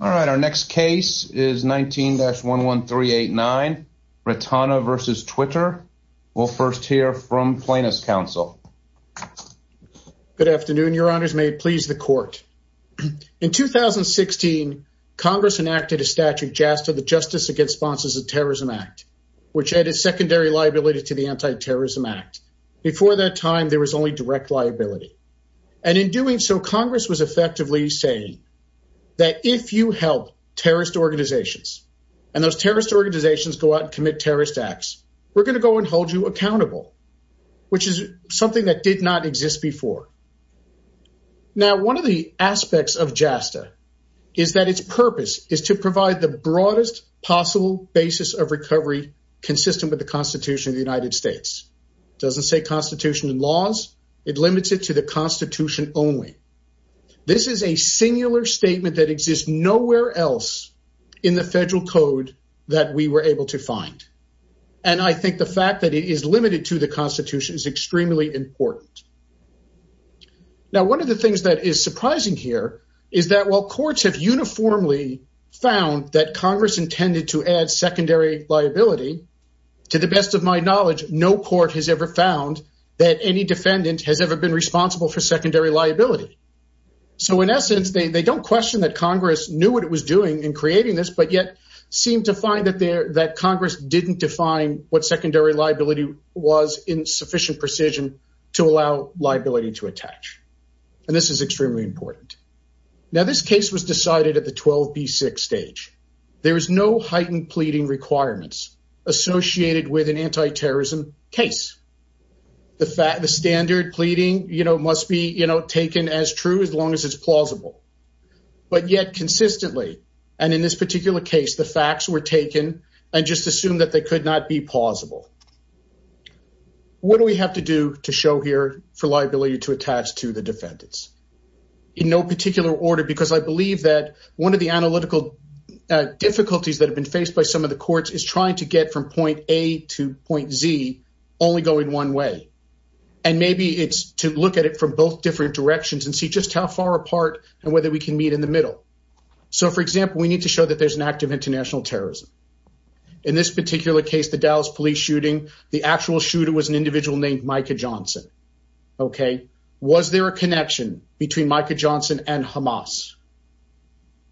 All right, our next case is 19-11389, Retana v. Twitter. We'll first hear from Plaintiff's Counsel. Good afternoon, your honors. May it please the court. In 2016, Congress enacted a statute, JASTA, the Justice Against Sponsors of Terrorism Act, which added secondary liability to the Anti-Terrorism Act. Before that time, there was only direct liability. And in doing so, Congress was effectively saying that if you help terrorist organizations and those terrorist organizations go out and commit terrorist acts, we're going to go and hold you accountable, which is something that did not exist before. Now, one of the aspects of JASTA is that its purpose is to provide the broadest possible basis of recovery consistent with the Constitution of the United States. It doesn't say Constitution and laws. It limits it to the Constitution only. This is a singular statement that exists nowhere else in the federal code that we were able to find. And I think the fact that it is limited to the Constitution is extremely important. Now, one of the things that is surprising here is that while courts have uniformly found that Congress intended to add secondary liability, to the best of my knowledge, no court has ever found that any defendant has ever been responsible for secondary liability. So, in essence, they don't question that Congress knew what it was doing in creating this, but yet seemed to find that Congress didn't define what secondary liability was in sufficient precision to allow liability to attach. And this is extremely important. Now, this case was decided at the 12B6 stage. There is no heightened pleading requirements associated with an anti-terrorism case. The standard pleading must be taken as true as long as it's plausible. But yet consistently, and in this particular case, the facts were taken and just assumed that they could not be plausible. What do we have to do to show here for liability to attach to the defendants? In no particular order, because I believe that one of the analytical difficulties that have been faced by some of the courts is trying to get from point A to point Z only going one way. And maybe it's to look at it from both different directions and see just how far apart and whether we can meet in the middle. So, for example, we need to show that there's an act of international terrorism. In this particular case, the Dallas police shooting, the actual shooter was an individual named Micah Johnson. Okay. Was there a connection between Micah Johnson and Hamas?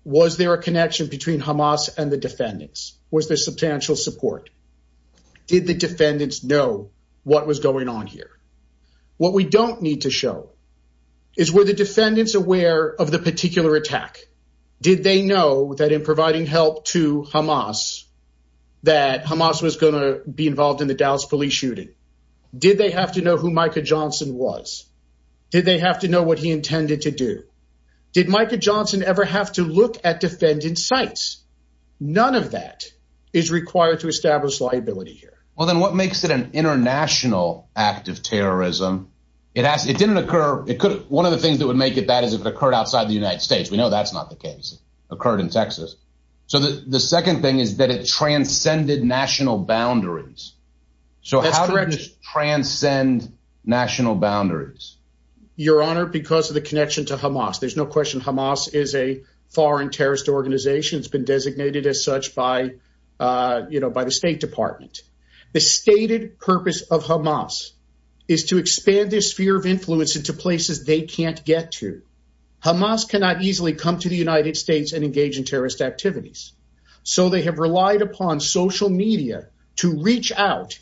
Was there a connection between Hamas and the defendants? Was there substantial support? Did the defendants know what was going on here? What we don't need to show is were the defendants aware of the particular attack? Did they know that in providing help to Hamas, that Hamas was going to be involved in the Dallas police shooting? Did they have to know who Micah Johnson was? Did they have to know what he intended to do? Did Micah Johnson ever have to look at defendant sites? None of that is required to establish liability here. Well, then what makes it an international act of terrorism? It didn't occur. One of the things that would make it that is if it occurred outside the United States. We know that's not the case. Occurred in Texas. So the second thing is that it transcended national boundaries. So how do you transcend national boundaries? Your Honor, because of the connection to Hamas, there's no question Hamas is a foreign terrorist organization. It's been designated as such by, you know, by the State Department. The stated purpose of Hamas is to expand this sphere of influence into places they can't get to. Hamas cannot easily come to the United States and engage in terrorist activities. So they have relied upon social media to reach out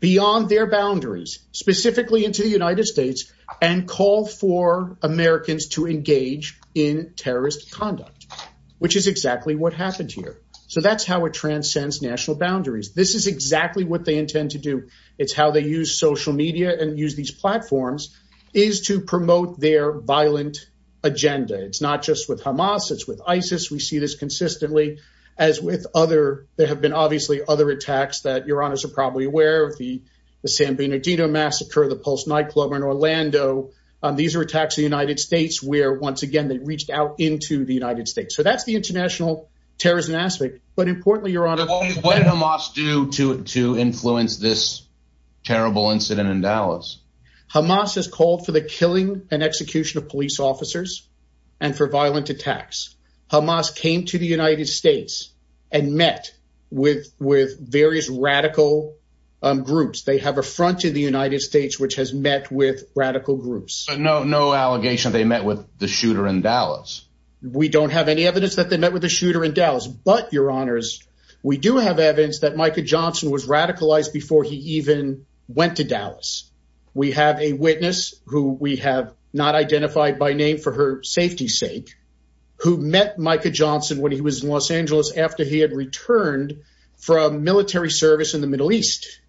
beyond their boundaries, specifically into the United States, and call for Americans to engage in terrorist conduct, which is exactly what happened here. So that's how it transcends national boundaries. This is exactly what they intend to do. It's how they use social media and use these platforms is to promote their violent agenda. It's not just with Hamas. It's with ISIS. We see this consistently as with other. There have been obviously other attacks that your Honor's are probably aware of the the San Bernardino massacre, the Pulse nightclub in Orlando. These are attacks in the United States where once again, they reached out into the United States. So that's the international terrorism aspect. But importantly, your Honor, what did Hamas do to influence this terrible incident in Dallas? Hamas has called for the killing and execution of police officers and for violent attacks. Hamas came to the United States and met with various radical groups. They have a front in the United States, which has met with radical groups. No, no allegation. They met with the shooter in Dallas. We don't have any evidence that they met with a shooter in Dallas. But your Honors, we do have evidence that Micah Johnson was radicalized before he even went to Dallas. We have a witness who we have not identified by name for her safety sake, who met Micah Johnson when he was in Los Angeles after he had returned from military service in the Middle East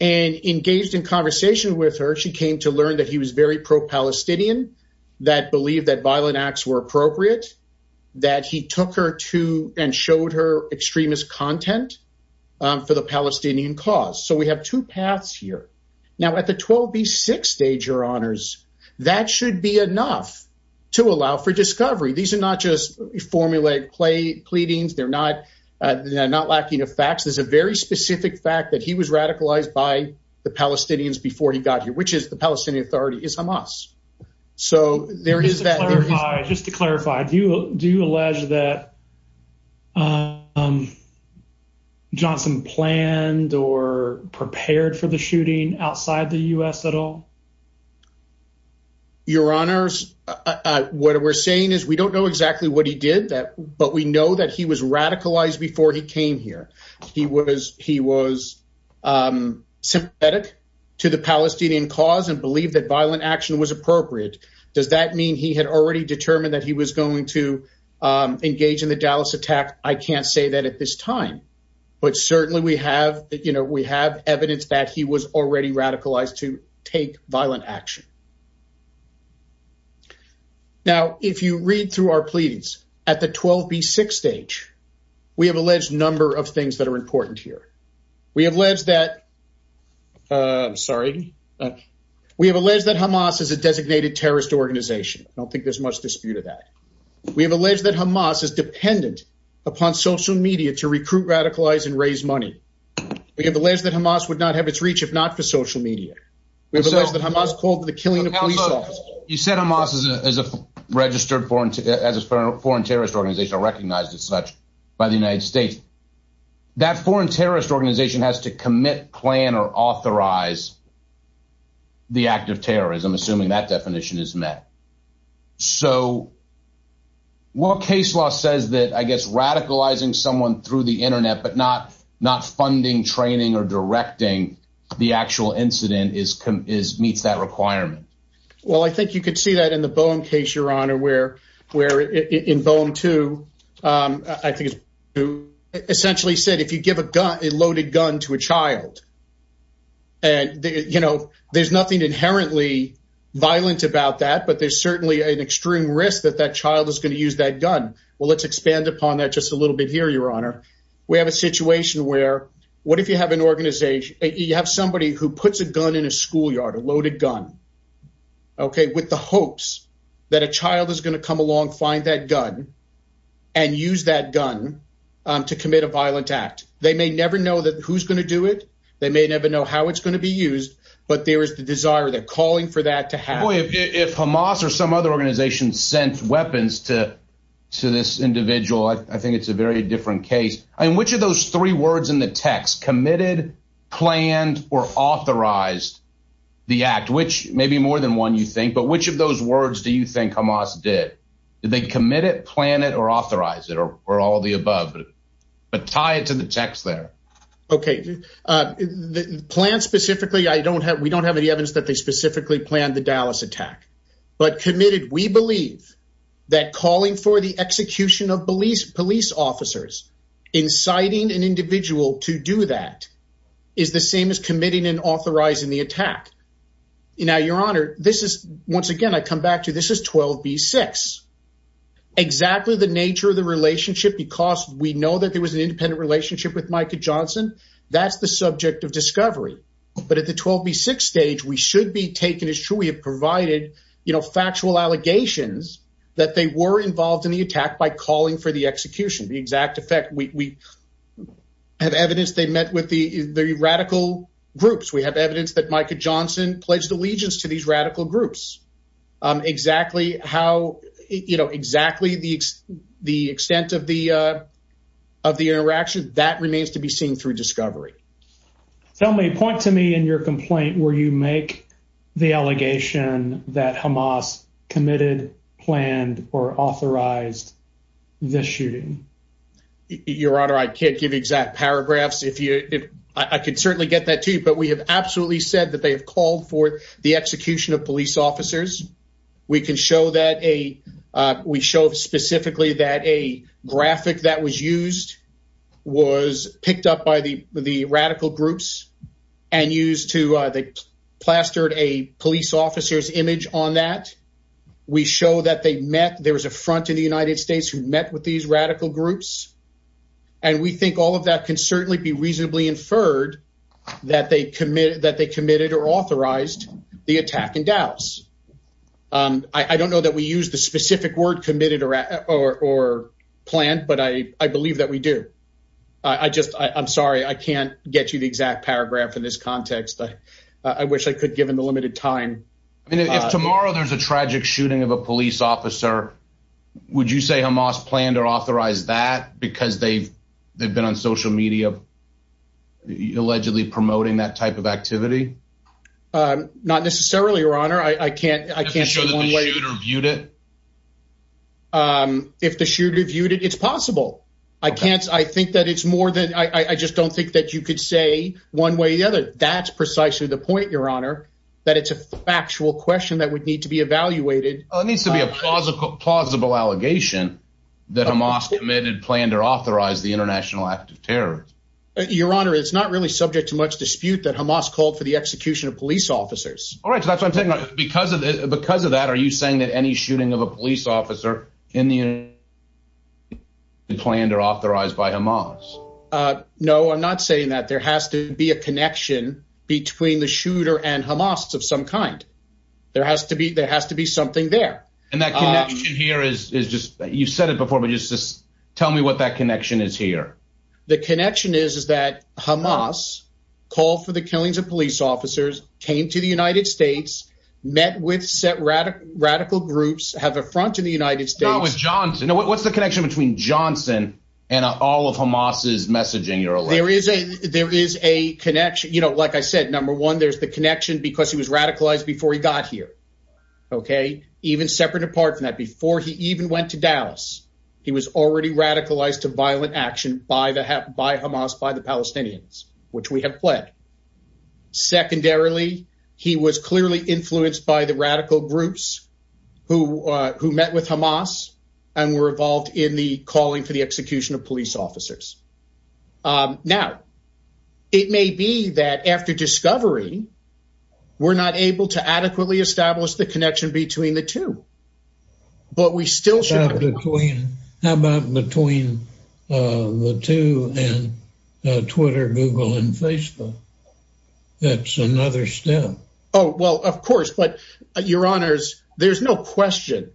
and engaged in conversation with her. She came to learn that he was very pro-Palestinian, that believed that violent acts were appropriate, that he took her to and showed her extremist content for the Palestinian cause. So we have two paths here. Now at the 12B6 stage, your Honors, that should be enough to allow for discovery. These are not just formulaic pleadings. They're not lacking of facts. There's a very specific fact that he was radicalized by the Palestinians before he got here, which is the Palestinian Authority, is Hamas. So there is that. Just to clarify, do you allege that Johnson planned or prepared for the shooting outside the U.S. at all? Your Honors, what we're saying is we don't know exactly what he did, but we know that he was radicalized before he came here. He was sympathetic to the Palestinian cause and believed that violent action was appropriate. Does that mean he had already determined that he was going to engage in the Dallas attack? I can't say that at this time, but certainly we have evidence that he was already radicalized to take violent action. Now, if you read through our pleadings at the 12B6 stage, we have alleged a number of things that are important here. We have alleged that Hamas is a designated terrorist organization. I don't think there's much dispute of that. We have alleged that Hamas is dependent upon social media to recruit, radicalize, and raise money. We have alleged that Hamas would not have its reach if not for social media. We have alleged that Hamas called the killings of the Palestinians and the killing of police officers. You said Hamas is a registered foreign terrorist organization or recognized as such by the United States. That foreign terrorist organization has to commit, plan, or authorize the act of terrorism, assuming that definition is met. So, while case law says that, I guess, radicalizing someone through the internet, but not funding, training, or directing the actual incident meets that requirement. Well, I think you could see that in the Boehm case, Your Honor, where in Boehm 2, I think it essentially said, if you give a loaded gun to a child, there's nothing inherently violent about that, but there's certainly an extreme risk that that child is going to use that gun. Well, let's expand upon that just a little bit here, Your Honor. We have a situation where, what if you have an organization, you have somebody who puts a gun in a schoolyard, a loaded gun, okay, with the hopes that a child is going to come along, find that gun, and use that gun to commit a violent act. They may never know who's going to do it. They may never know how it's going to be used, but there is the desire, the calling for that to happen. If Hamas or some other organization sent weapons to this individual, I think it's a very different case. Which of those three words in the text, committed, planned, or authorized the act, which may be more than one you think, but which of those words do you think Hamas did? Did they commit it, plan it, or authorize it, or all of the above? But tie it to the text there. Okay. Planned specifically, we don't have any evidence that they specifically planned the that calling for the execution of police officers, inciting an individual to do that, is the same as committing and authorizing the attack. Now, Your Honor, this is, once again, I come back to, this is 12B6. Exactly the nature of the relationship, because we know that there was an independent relationship with Micah Johnson, that's the subject of discovery. But at the 12B6 stage, we should be taken as true. We have provided factual allegations that they were involved in the attack by calling for the execution. The exact effect, we have evidence they met with the radical groups. We have evidence that Micah Johnson pledged allegiance to these radical groups. Exactly the extent of the interaction, that remains to be seen through discovery. Tell me, point to me in your complaint where you make the allegation that Hamas committed, planned, or authorized the shooting. Your Honor, I can't give exact paragraphs. I can certainly get that to you, but we have absolutely said that they have called for the execution of police officers. We can show that a, we show specifically that a graphic that was used was picked up by the radical groups and used to, they plastered a police officer's image on that. We show that they met, there was a front in the United States who met with these radical groups. And we think all of that can certainly be reasonably inferred that they committed, that they committed or authorized the attack in Dallas. I don't know that we use the specific word committed or planned, but I believe that we do. I just, I'm sorry, I can't get you the exact paragraph in this context. I wish I could given the limited time. I mean, if tomorrow there's a tragic shooting of a police officer, would you say Hamas planned or authorized that because they've they've been on social media allegedly promoting that type of activity? Um, not necessarily, your honor. I can't, I can't say one way or viewed it. Um, if the shooter viewed it, it's possible. I can't, I think that it's more than, I, I just don't think that you could say one way or the other. That's precisely the point, your honor, that it's a factual question that would need to be evaluated. Oh, it needs to be a plausible, plausible allegation that Hamas committed, planned or authorized the international act of terror. Your honor, it's not really subject to much dispute that Hamas called for the execution of police officers. All right. So that's what I'm talking about because of the, because of that, are you saying that any shooting of a police officer in the planned or authorized by Hamas? No, I'm not saying that there has to be a connection between the shooter and Hamas of some kind. There has to be, there has to be something there. And that connection here is, is just, you've said it before, but just, just tell me what that connection is here. The connection is, is that Hamas called for the killings of police officers, came to the United States, met with set radical groups, have a front in the United States. No, it was Johnson. What's the connection between Johnson and all of Hamas's messaging? There is a connection, you know, like I said, number one, there's the connection because he was radicalized before he got here. Okay. Even separate apart from that, before he even went to Dallas, he was already radicalized to violent action by the, by Hamas, by the Palestinians, which we have pled. Secondarily, he was clearly influenced by the radical groups who, who met with Hamas and were involved in the calling for the execution of police officers. Now, it may be that after discovery, we're not able to adequately establish the connection between the two, but we still should. How about between the two and Twitter, Google, and Facebook? That's another step. Oh, well, of course, but your honors, there's no question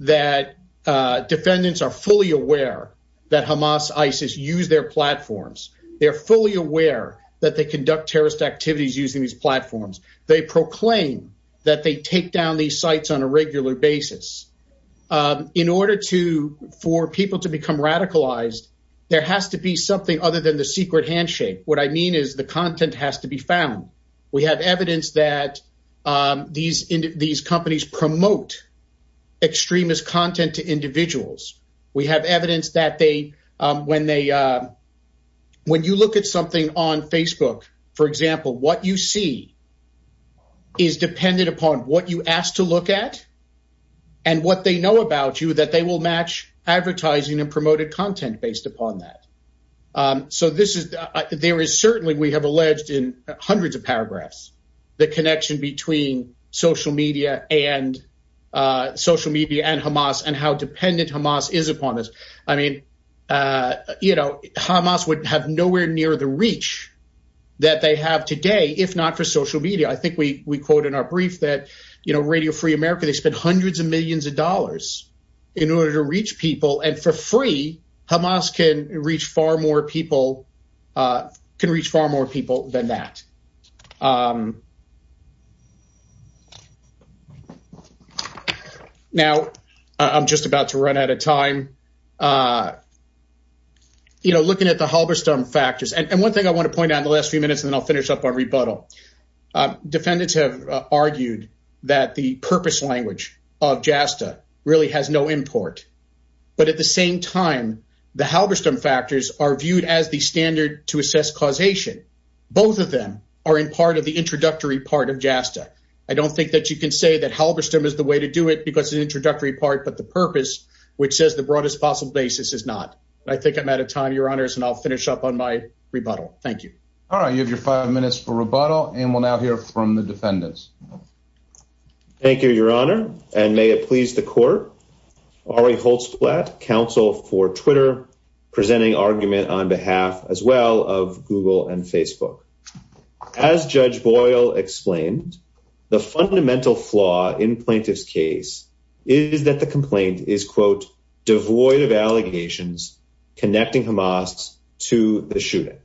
that defendants are fully aware that Hamas, ISIS use their platforms. They're fully aware that they conduct terrorist activities using these platforms. They proclaim that they take down these sites on a regular basis. In order to, for people to become radicalized, there has to be something other than the secret handshake. What I mean is the content has to be found. We have evidence that these companies promote extremist content to individuals. We have evidence that they, when they, when you look at something on Facebook, for example, what you see is dependent upon what you ask to look at and what they know about you, that they will match advertising and promoted content based upon that. So this is, there is certainly, we have alleged in hundreds of paragraphs, the connection between social media and social media and Hamas and how dependent Hamas is upon this. I mean, you know, Hamas would have nowhere near the reach that they have today, if not for social media. I think we quote in our brief that, you know, Radio Free America, they spent hundreds of millions of dollars in order to reach people. And for free, Hamas can reach far more people, can reach far more people than that. Now, I'm just about to run out of time. You know, looking at the Halberstam factors, and one thing I want to point out in the last few minutes, and then I'll finish up on rebuttal. Defendants have argued that the purpose language of JASTA really has no import, but at the same time, the Halberstam factors are viewed as the standard to assess causation. Both of them are in part of the introductory part of JASTA. I don't think that you can say that Halberstam is the way to do it because it's an introductory part, but the purpose, which says the broadest possible basis, is not. I think I'm out of time, your honors, and I'll finish up on my rebuttal. Thank you. All right, you have your five minutes for rebuttal, and we'll now hear from the defendants. Thank you, your honor, and may it please the court. Ari Holzblatt, counsel for Twitter, presenting argument on behalf as well of Google and Facebook. As Judge Boyle explained, the fundamental flaw in plaintiff's case is that the complaint is, quote, devoid of allegations connecting Hamas to the shooting.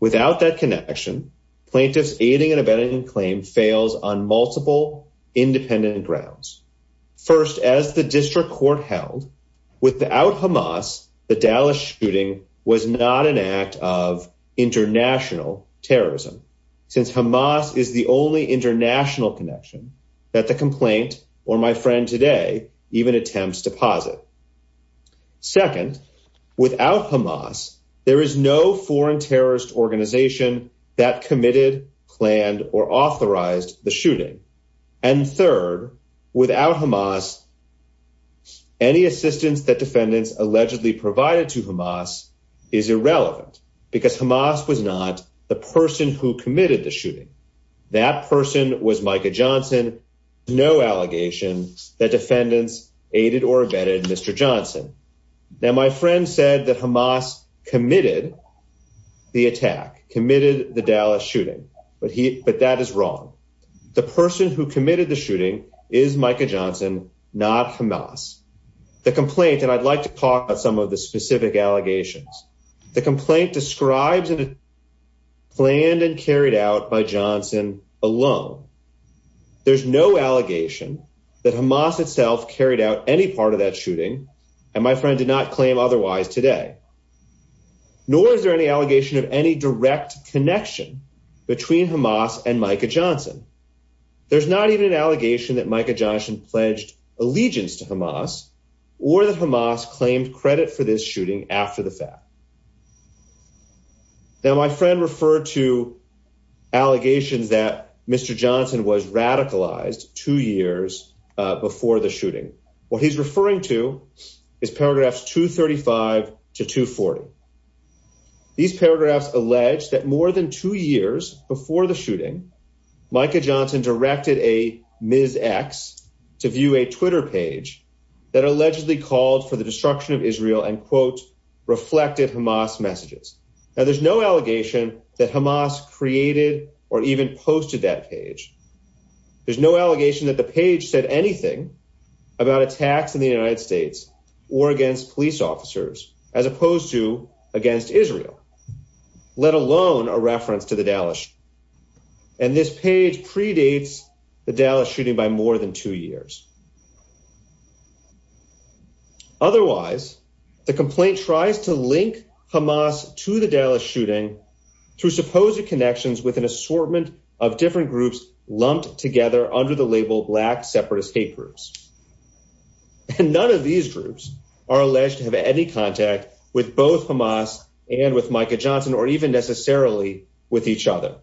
Without that connection, plaintiff's aiding and abetting claim fails on multiple independent grounds. First, as the district court held, without Hamas, the Dallas shooting was not an act of international terrorism, since Hamas is the only international connection that the complaint or my friend today even attempts to posit. Second, without Hamas, there is no foreign without Hamas. Any assistance that defendants allegedly provided to Hamas is irrelevant, because Hamas was not the person who committed the shooting. That person was Micah Johnson. No allegation that defendants aided or abetted Mr. Johnson. Now, my friend said that Hamas committed the attack, committed the Dallas shooting, but that is wrong. The person who is Micah Johnson, not Hamas. The complaint, and I'd like to talk about some of the specific allegations. The complaint describes it as planned and carried out by Johnson alone. There's no allegation that Hamas itself carried out any part of that shooting, and my friend did not claim otherwise today. Nor is there any allegation of any direct connection between Hamas and Micah Johnson. There's not even an allegation that Micah Johnson pledged allegiance to Hamas, or that Hamas claimed credit for this shooting after the fact. Now, my friend referred to allegations that Mr. Johnson was radicalized two years before the shooting. What he's referring to is paragraphs 235 to 240. These paragraphs allege that more than two years before the shooting, Micah Johnson directed a Ms. X to view a Twitter page that allegedly called for the destruction of Israel and, quote, reflected Hamas messages. Now, there's no allegation that Hamas created or even posted that page. There's no allegation that the page said anything about attacks in the United States or against police officers, as opposed to against Israel, let alone a reference to the Dallas shooting. And this page predates the Dallas shooting by more than two years. Otherwise, the complaint tries to link Hamas to the Dallas shooting through supposed connections with an assortment of different groups lumped together under the label Black Separatist Hate Groups. And none of these groups are alleged to have any contact with both Hamas and with Micah Johnson or even necessarily with each other.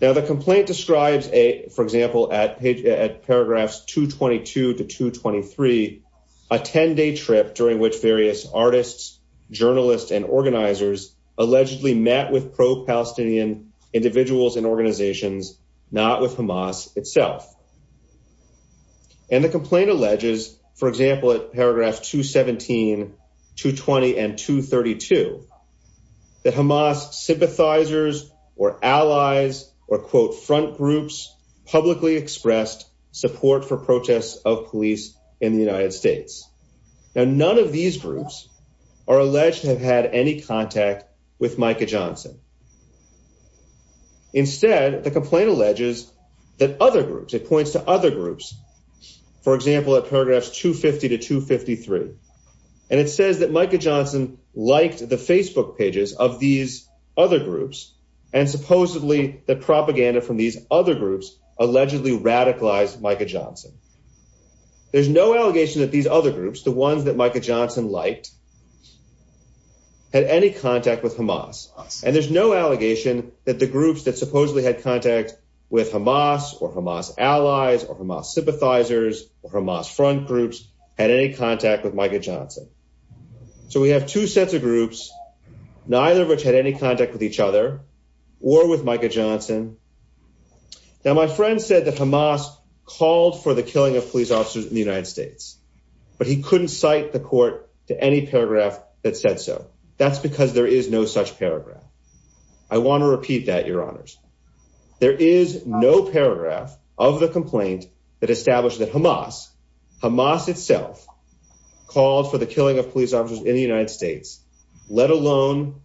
Now, the complaint describes, for example, at paragraphs 222 to 223, a 10-day trip during which various artists, journalists, and organizers allegedly met with pro-Palestinian individuals and organizations, not with Hamas itself. And the complaint alleges, for example, at paragraphs 217, 220, and 232, that Hamas sympathizers or allies or, quote, front groups publicly expressed support for protests of police in the United States. Now, none of these groups are alleged to have had any contact with Micah Johnson. Instead, the complaint alleges that other groups, it points to other groups, for example, at paragraphs 250 to 253. And it says that Micah Johnson liked the Facebook pages of these other groups and supposedly that propaganda from these other groups allegedly radicalized Micah Johnson. There's no allegation that these other groups, the ones that Micah Johnson liked, had any contact with Hamas. And there's no allegation that the groups that supposedly had contact with Hamas or Hamas allies or Hamas sympathizers or Hamas front groups had any contact with Micah Johnson. So we have two sets of groups, neither of which had any contact with each other or with Micah Johnson. Now, my friend said that Hamas called for the killing of police officers in the United States, but he couldn't cite the court to any paragraph that said so. That's because there is no such paragraph. I want to repeat that, your honors. There is no paragraph of the complaint that established that Hamas, Hamas itself, called for the killing of police officers in the United States, let alone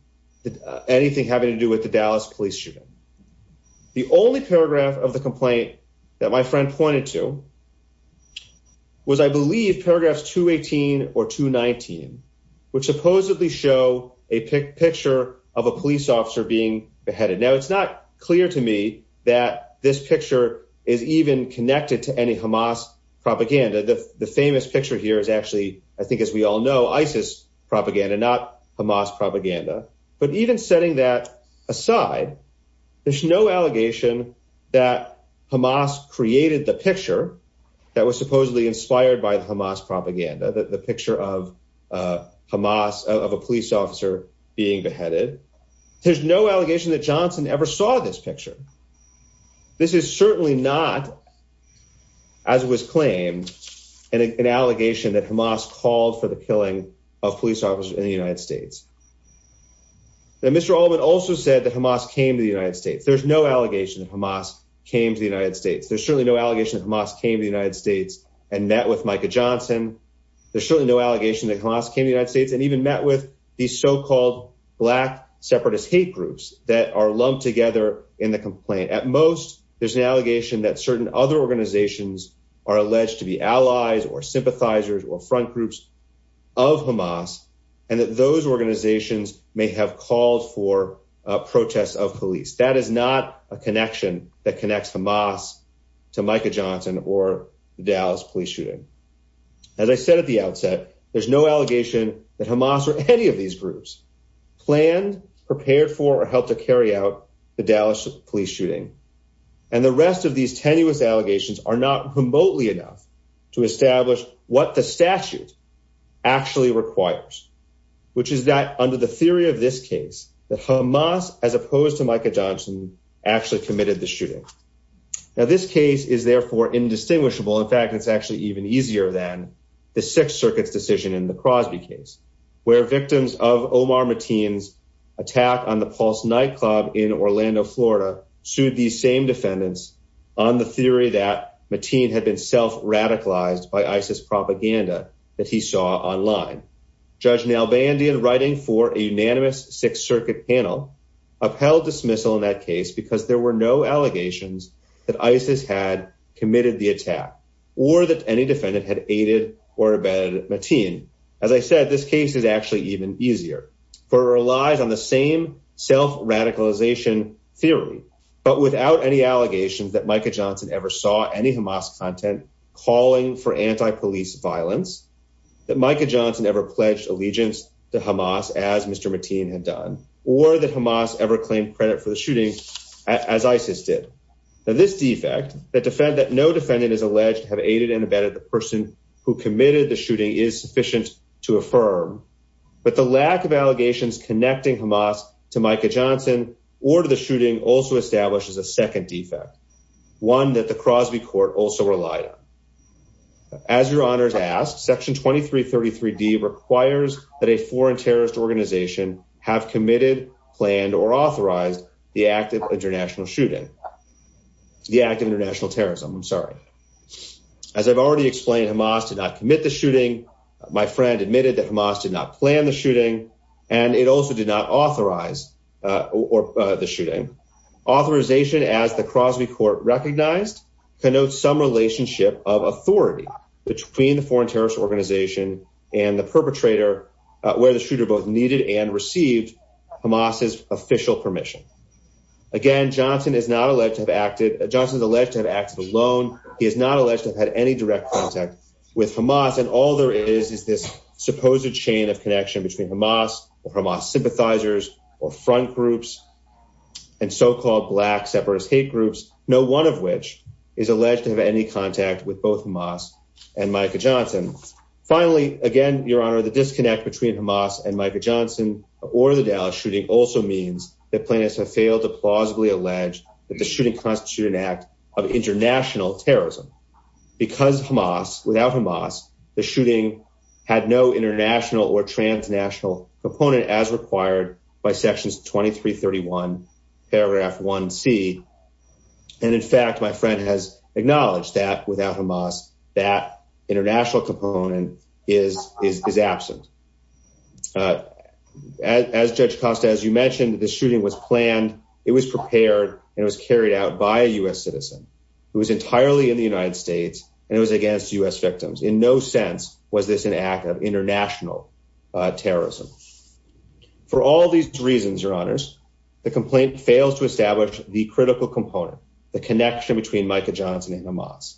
anything having to do with the Dallas police shooting. The only paragraph of the complaint that my friend pointed to was, I believe, paragraphs 218 or 219, which supposedly show a picture of a police officer being beheaded. Now, it's not clear to me that this picture is even connected to any Hamas propaganda. The famous picture here is actually, I think, as we all know, ISIS propaganda, not Hamas propaganda. But even setting that aside, there's no allegation that Hamas created the picture that was supposedly inspired by Hamas propaganda, the picture of Hamas, of a police officer being beheaded. There's no allegation that Johnson ever saw this picture. This is certainly not, as was claimed, an allegation that Hamas called for the killing of police officers in the United States. Now, Mr. Allman also said that Hamas came to the United States. There's no allegation that Hamas came to the United States. There's certainly no allegation that Hamas came to the United States and met with Micah Johnson. There's certainly no allegation that Hamas came to the United States and even met with these so-called black separatist hate groups that are lumped together in the complaint. At most, there's an allegation that certain other organizations are alleged to be allies or sympathizers or front groups of Hamas and that those organizations may have called for protests of police. That is not a connection that connects Hamas to Micah Johnson or the Dallas police shooting. As I said at the outset, there's no allegation that Hamas or any of these groups planned, prepared for, or helped to carry out the Dallas police shooting. And the enough to establish what the statute actually requires, which is that under the theory of this case, that Hamas, as opposed to Micah Johnson, actually committed the shooting. Now, this case is therefore indistinguishable. In fact, it's actually even easier than the Sixth Circuit's decision in the Crosby case, where victims of Omar Mateen's attack on the Pulse nightclub in Orlando, Florida, sued the same defendants on the theory that Mateen had been self-radicalized by ISIS propaganda that he saw online. Judge Nalbandian, writing for a unanimous Sixth Circuit panel, upheld dismissal in that case because there were no allegations that ISIS had committed the attack or that any defendant had aided or abetted Mateen. As I said, this case is actually even easier, for it relies on the same self-radicalization theory, but without any allegations that Micah Johnson ever saw any Hamas content calling for anti-police violence, that Micah Johnson ever pledged allegiance to Hamas as Mr. Mateen had done, or that Hamas ever claimed credit for the shooting as ISIS did. Now, this defect, that no defendant is alleged to have aided and abetted the person who committed the shooting, is sufficient to affirm, but the lack of allegations connecting Hamas to Micah Johnson or to the shooting also establishes a second defect, one that the Crosby court also relied on. As your honors asked, Section 2333D requires that a foreign terrorist organization have committed, planned, or authorized the act of international terrorism. As I've already explained, Hamas did not commit the shooting. My friend admitted that Hamas did not plan the shooting, and it also did not authorize the shooting. Authorization, as the Crosby court recognized, connotes some relationship of authority between the foreign terrorist organization and the perpetrator, where the shooter both needed and received Hamas's official permission. Again, Johnson is not alleged to have acted alone. He is not alleged to have had any direct contact with Hamas, and all there is is this supposed chain of connection between Hamas or Hamas sympathizers or front groups and so-called black separatist hate groups, no one of which is alleged to have any contact with both Hamas and Micah Johnson. Finally, again, the disconnect between Hamas and Micah Johnson or the Dallas shooting also means that plaintiffs have failed to plausibly allege that the shooting constituted an act of international terrorism. Because Hamas, without Hamas, the shooting had no international or transnational component as required by Sections 2331, paragraph 1C. In fact, my friend has acknowledged that without Hamas, that international component is absent. As Judge Costa, as you mentioned, the shooting was planned, it was prepared, and it was carried out by a U.S. citizen. It was entirely in the United States, and it was against U.S. victims. In no sense was this an act of international terrorism. For all these reasons, your honors, the complaint fails to establish the critical component, the connection between Micah Johnson and Hamas.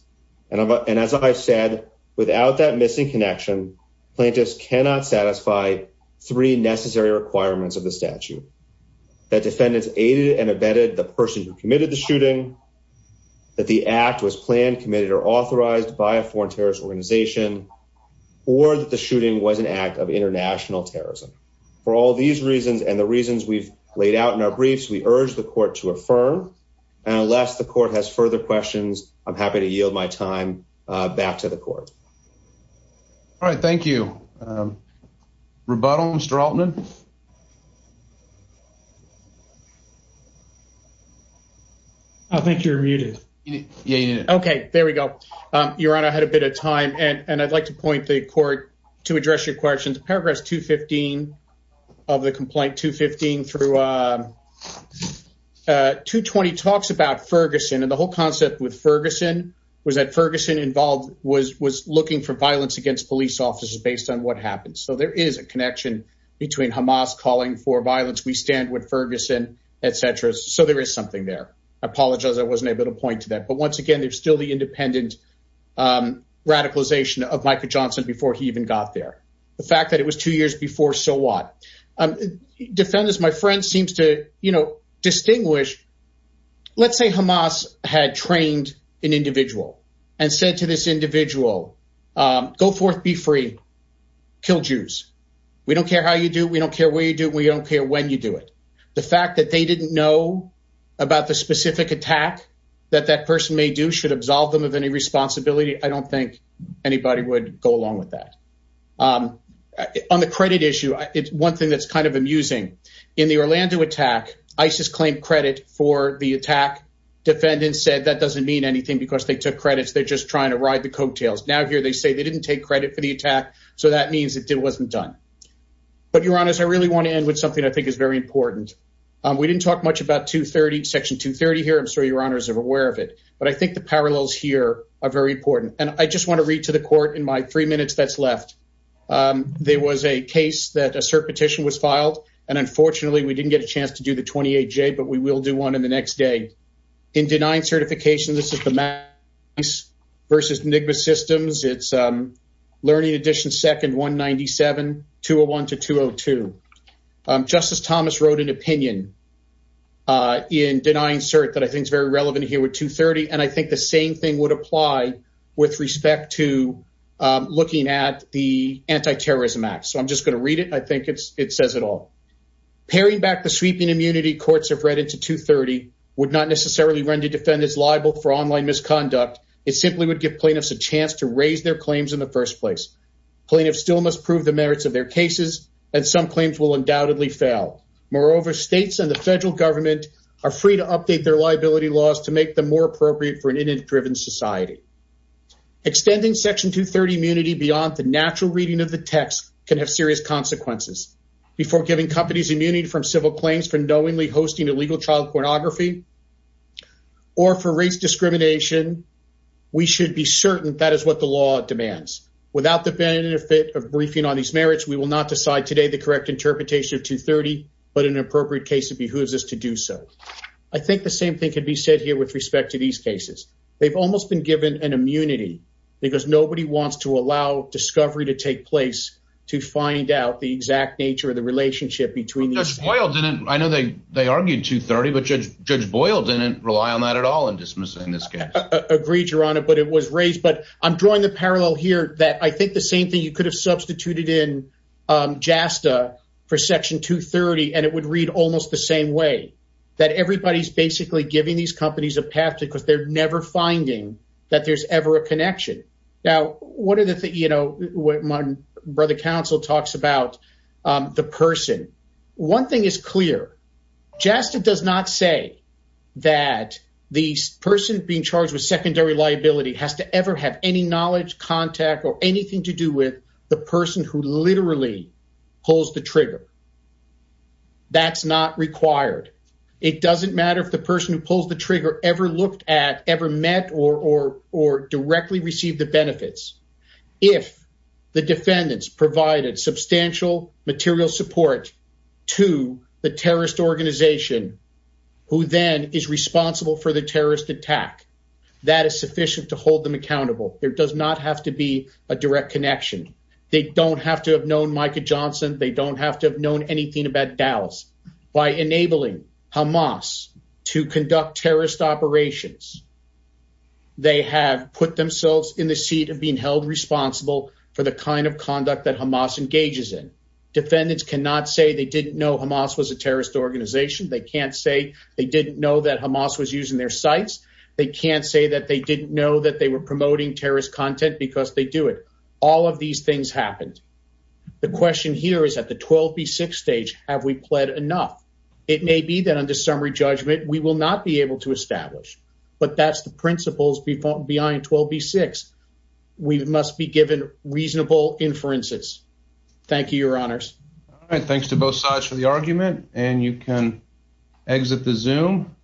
And as I've said, without that missing connection, plaintiffs cannot satisfy three necessary requirements of the statute, that defendants aided and abetted the person who committed the shooting, that the act was planned, committed, or authorized by a foreign terrorist organization, or that the shooting was an act of international terrorism. For all these reasons and the reasons we've laid out in our briefs, we urge the court to affirm. Unless the court has further questions, I'm happy to yield my time back to the court. All right, thank you. Rebuttal, Mr. Altman? I think you're muted. Okay, there we go. Your honor, I had a bit of time, and I'd like to point the court to address your questions. Paragraphs 215 of the complaint, 215 through 220 talks about Ferguson, and the whole concept with Ferguson was that Ferguson involved was looking for violence against police officers based on what happened. So there is a connection between Hamas calling for violence, we stand with Ferguson, etc. So there is something there. I apologize, I wasn't able to point to that. But once again, there's still the independent radicalization of Micah Johnson before he even got there. The fact that it was two years before, so what? Defendants, my friend, seems to distinguish. Let's say Hamas had trained an individual and said to this individual, go forth, be free, kill Jews. We don't care how you do, we don't care where you do, we don't care when you do it. The fact that they didn't know about the specific attack that that person may do should absolve them of any responsibility. I don't think anybody would go along with that. On the credit issue, it's one thing that's kind of amusing. In the Orlando attack, ISIS claimed credit for the attack. Defendants said that doesn't mean anything because they took credits, they're just trying to ride the coattails. Now here, they say they didn't take credit for the attack. So that means it wasn't done. But Your Honors, I really want to end with something I think is very important. We didn't talk much about Section 230 here, I'm sure Your Honors are aware of it. But I think the parallels here are very important. And I just want to read to the court in my three minutes that's left. There was a case that a CERT petition was filed. And unfortunately, we didn't get a chance to do the 28-J, but we will do one in the next day. In denying certification, this is the Mac vs. Enigma systems. It's learning edition second 197, 201 to 202. Justice Thomas wrote an opinion in denying CERT that I think relevant here with 230. And I think the same thing would apply with respect to looking at the Anti-Terrorism Act. So I'm just going to read it. I think it's it says it all. Pairing back the sweeping immunity courts have read into 230 would not necessarily render defendants liable for online misconduct. It simply would give plaintiffs a chance to raise their claims in the first place. Plaintiffs still must prove the merits of their cases, and some claims will undoubtedly fail. Moreover, states and the federal government are free to update their liability laws to make them more appropriate for an image-driven society. Extending Section 230 immunity beyond the natural reading of the text can have serious consequences. Before giving companies immunity from civil claims for knowingly hosting illegal child pornography or for race discrimination, we should be certain that is what the law demands. Without the benefit of briefing on these merits, we will not decide today the correct interpretation of 230, but in an appropriate case, it behooves us to do so. I think the same thing could be said here with respect to these cases. They've almost been given an immunity because nobody wants to allow discovery to take place to find out the exact nature of the relationship between these cases. I know they argued 230, but Judge Boyle didn't rely on that at all in dismissing this case. Agreed, Your Honor, but it was raised. But I'm drawing the parallel here that I think the same thing you could have substituted in JASTA for Section 230, and it would read almost the same way, that everybody's basically giving these companies a path because they're never finding that there's ever a connection. Now, one of the things, you know, my brother counsel talks about the person. One thing is clear. JASTA does not say that the person being charged with the crime is the person who literally pulls the trigger. That's not required. It doesn't matter if the person who pulls the trigger ever looked at, ever met, or directly received the benefits. If the defendants provided substantial material support to the terrorist organization who then is responsible for the terrorist attack, that is sufficient to hold them accountable. There don't have to have known Micah Johnson. They don't have to have known anything about Dallas. By enabling Hamas to conduct terrorist operations, they have put themselves in the seat of being held responsible for the kind of conduct that Hamas engages in. Defendants cannot say they didn't know Hamas was a terrorist organization. They can't say they didn't know that Hamas was using their sites. They can't say that they didn't know that they were promoting terrorist content because they do it. All of these things happened. The question here is at the 12B6 stage, have we pled enough? It may be that under summary judgment, we will not be able to establish, but that's the principles behind 12B6. We must be given reasonable inferences. Thank you, your honors. All right. Thanks to both sides for the argument, and you can exit the Zoom.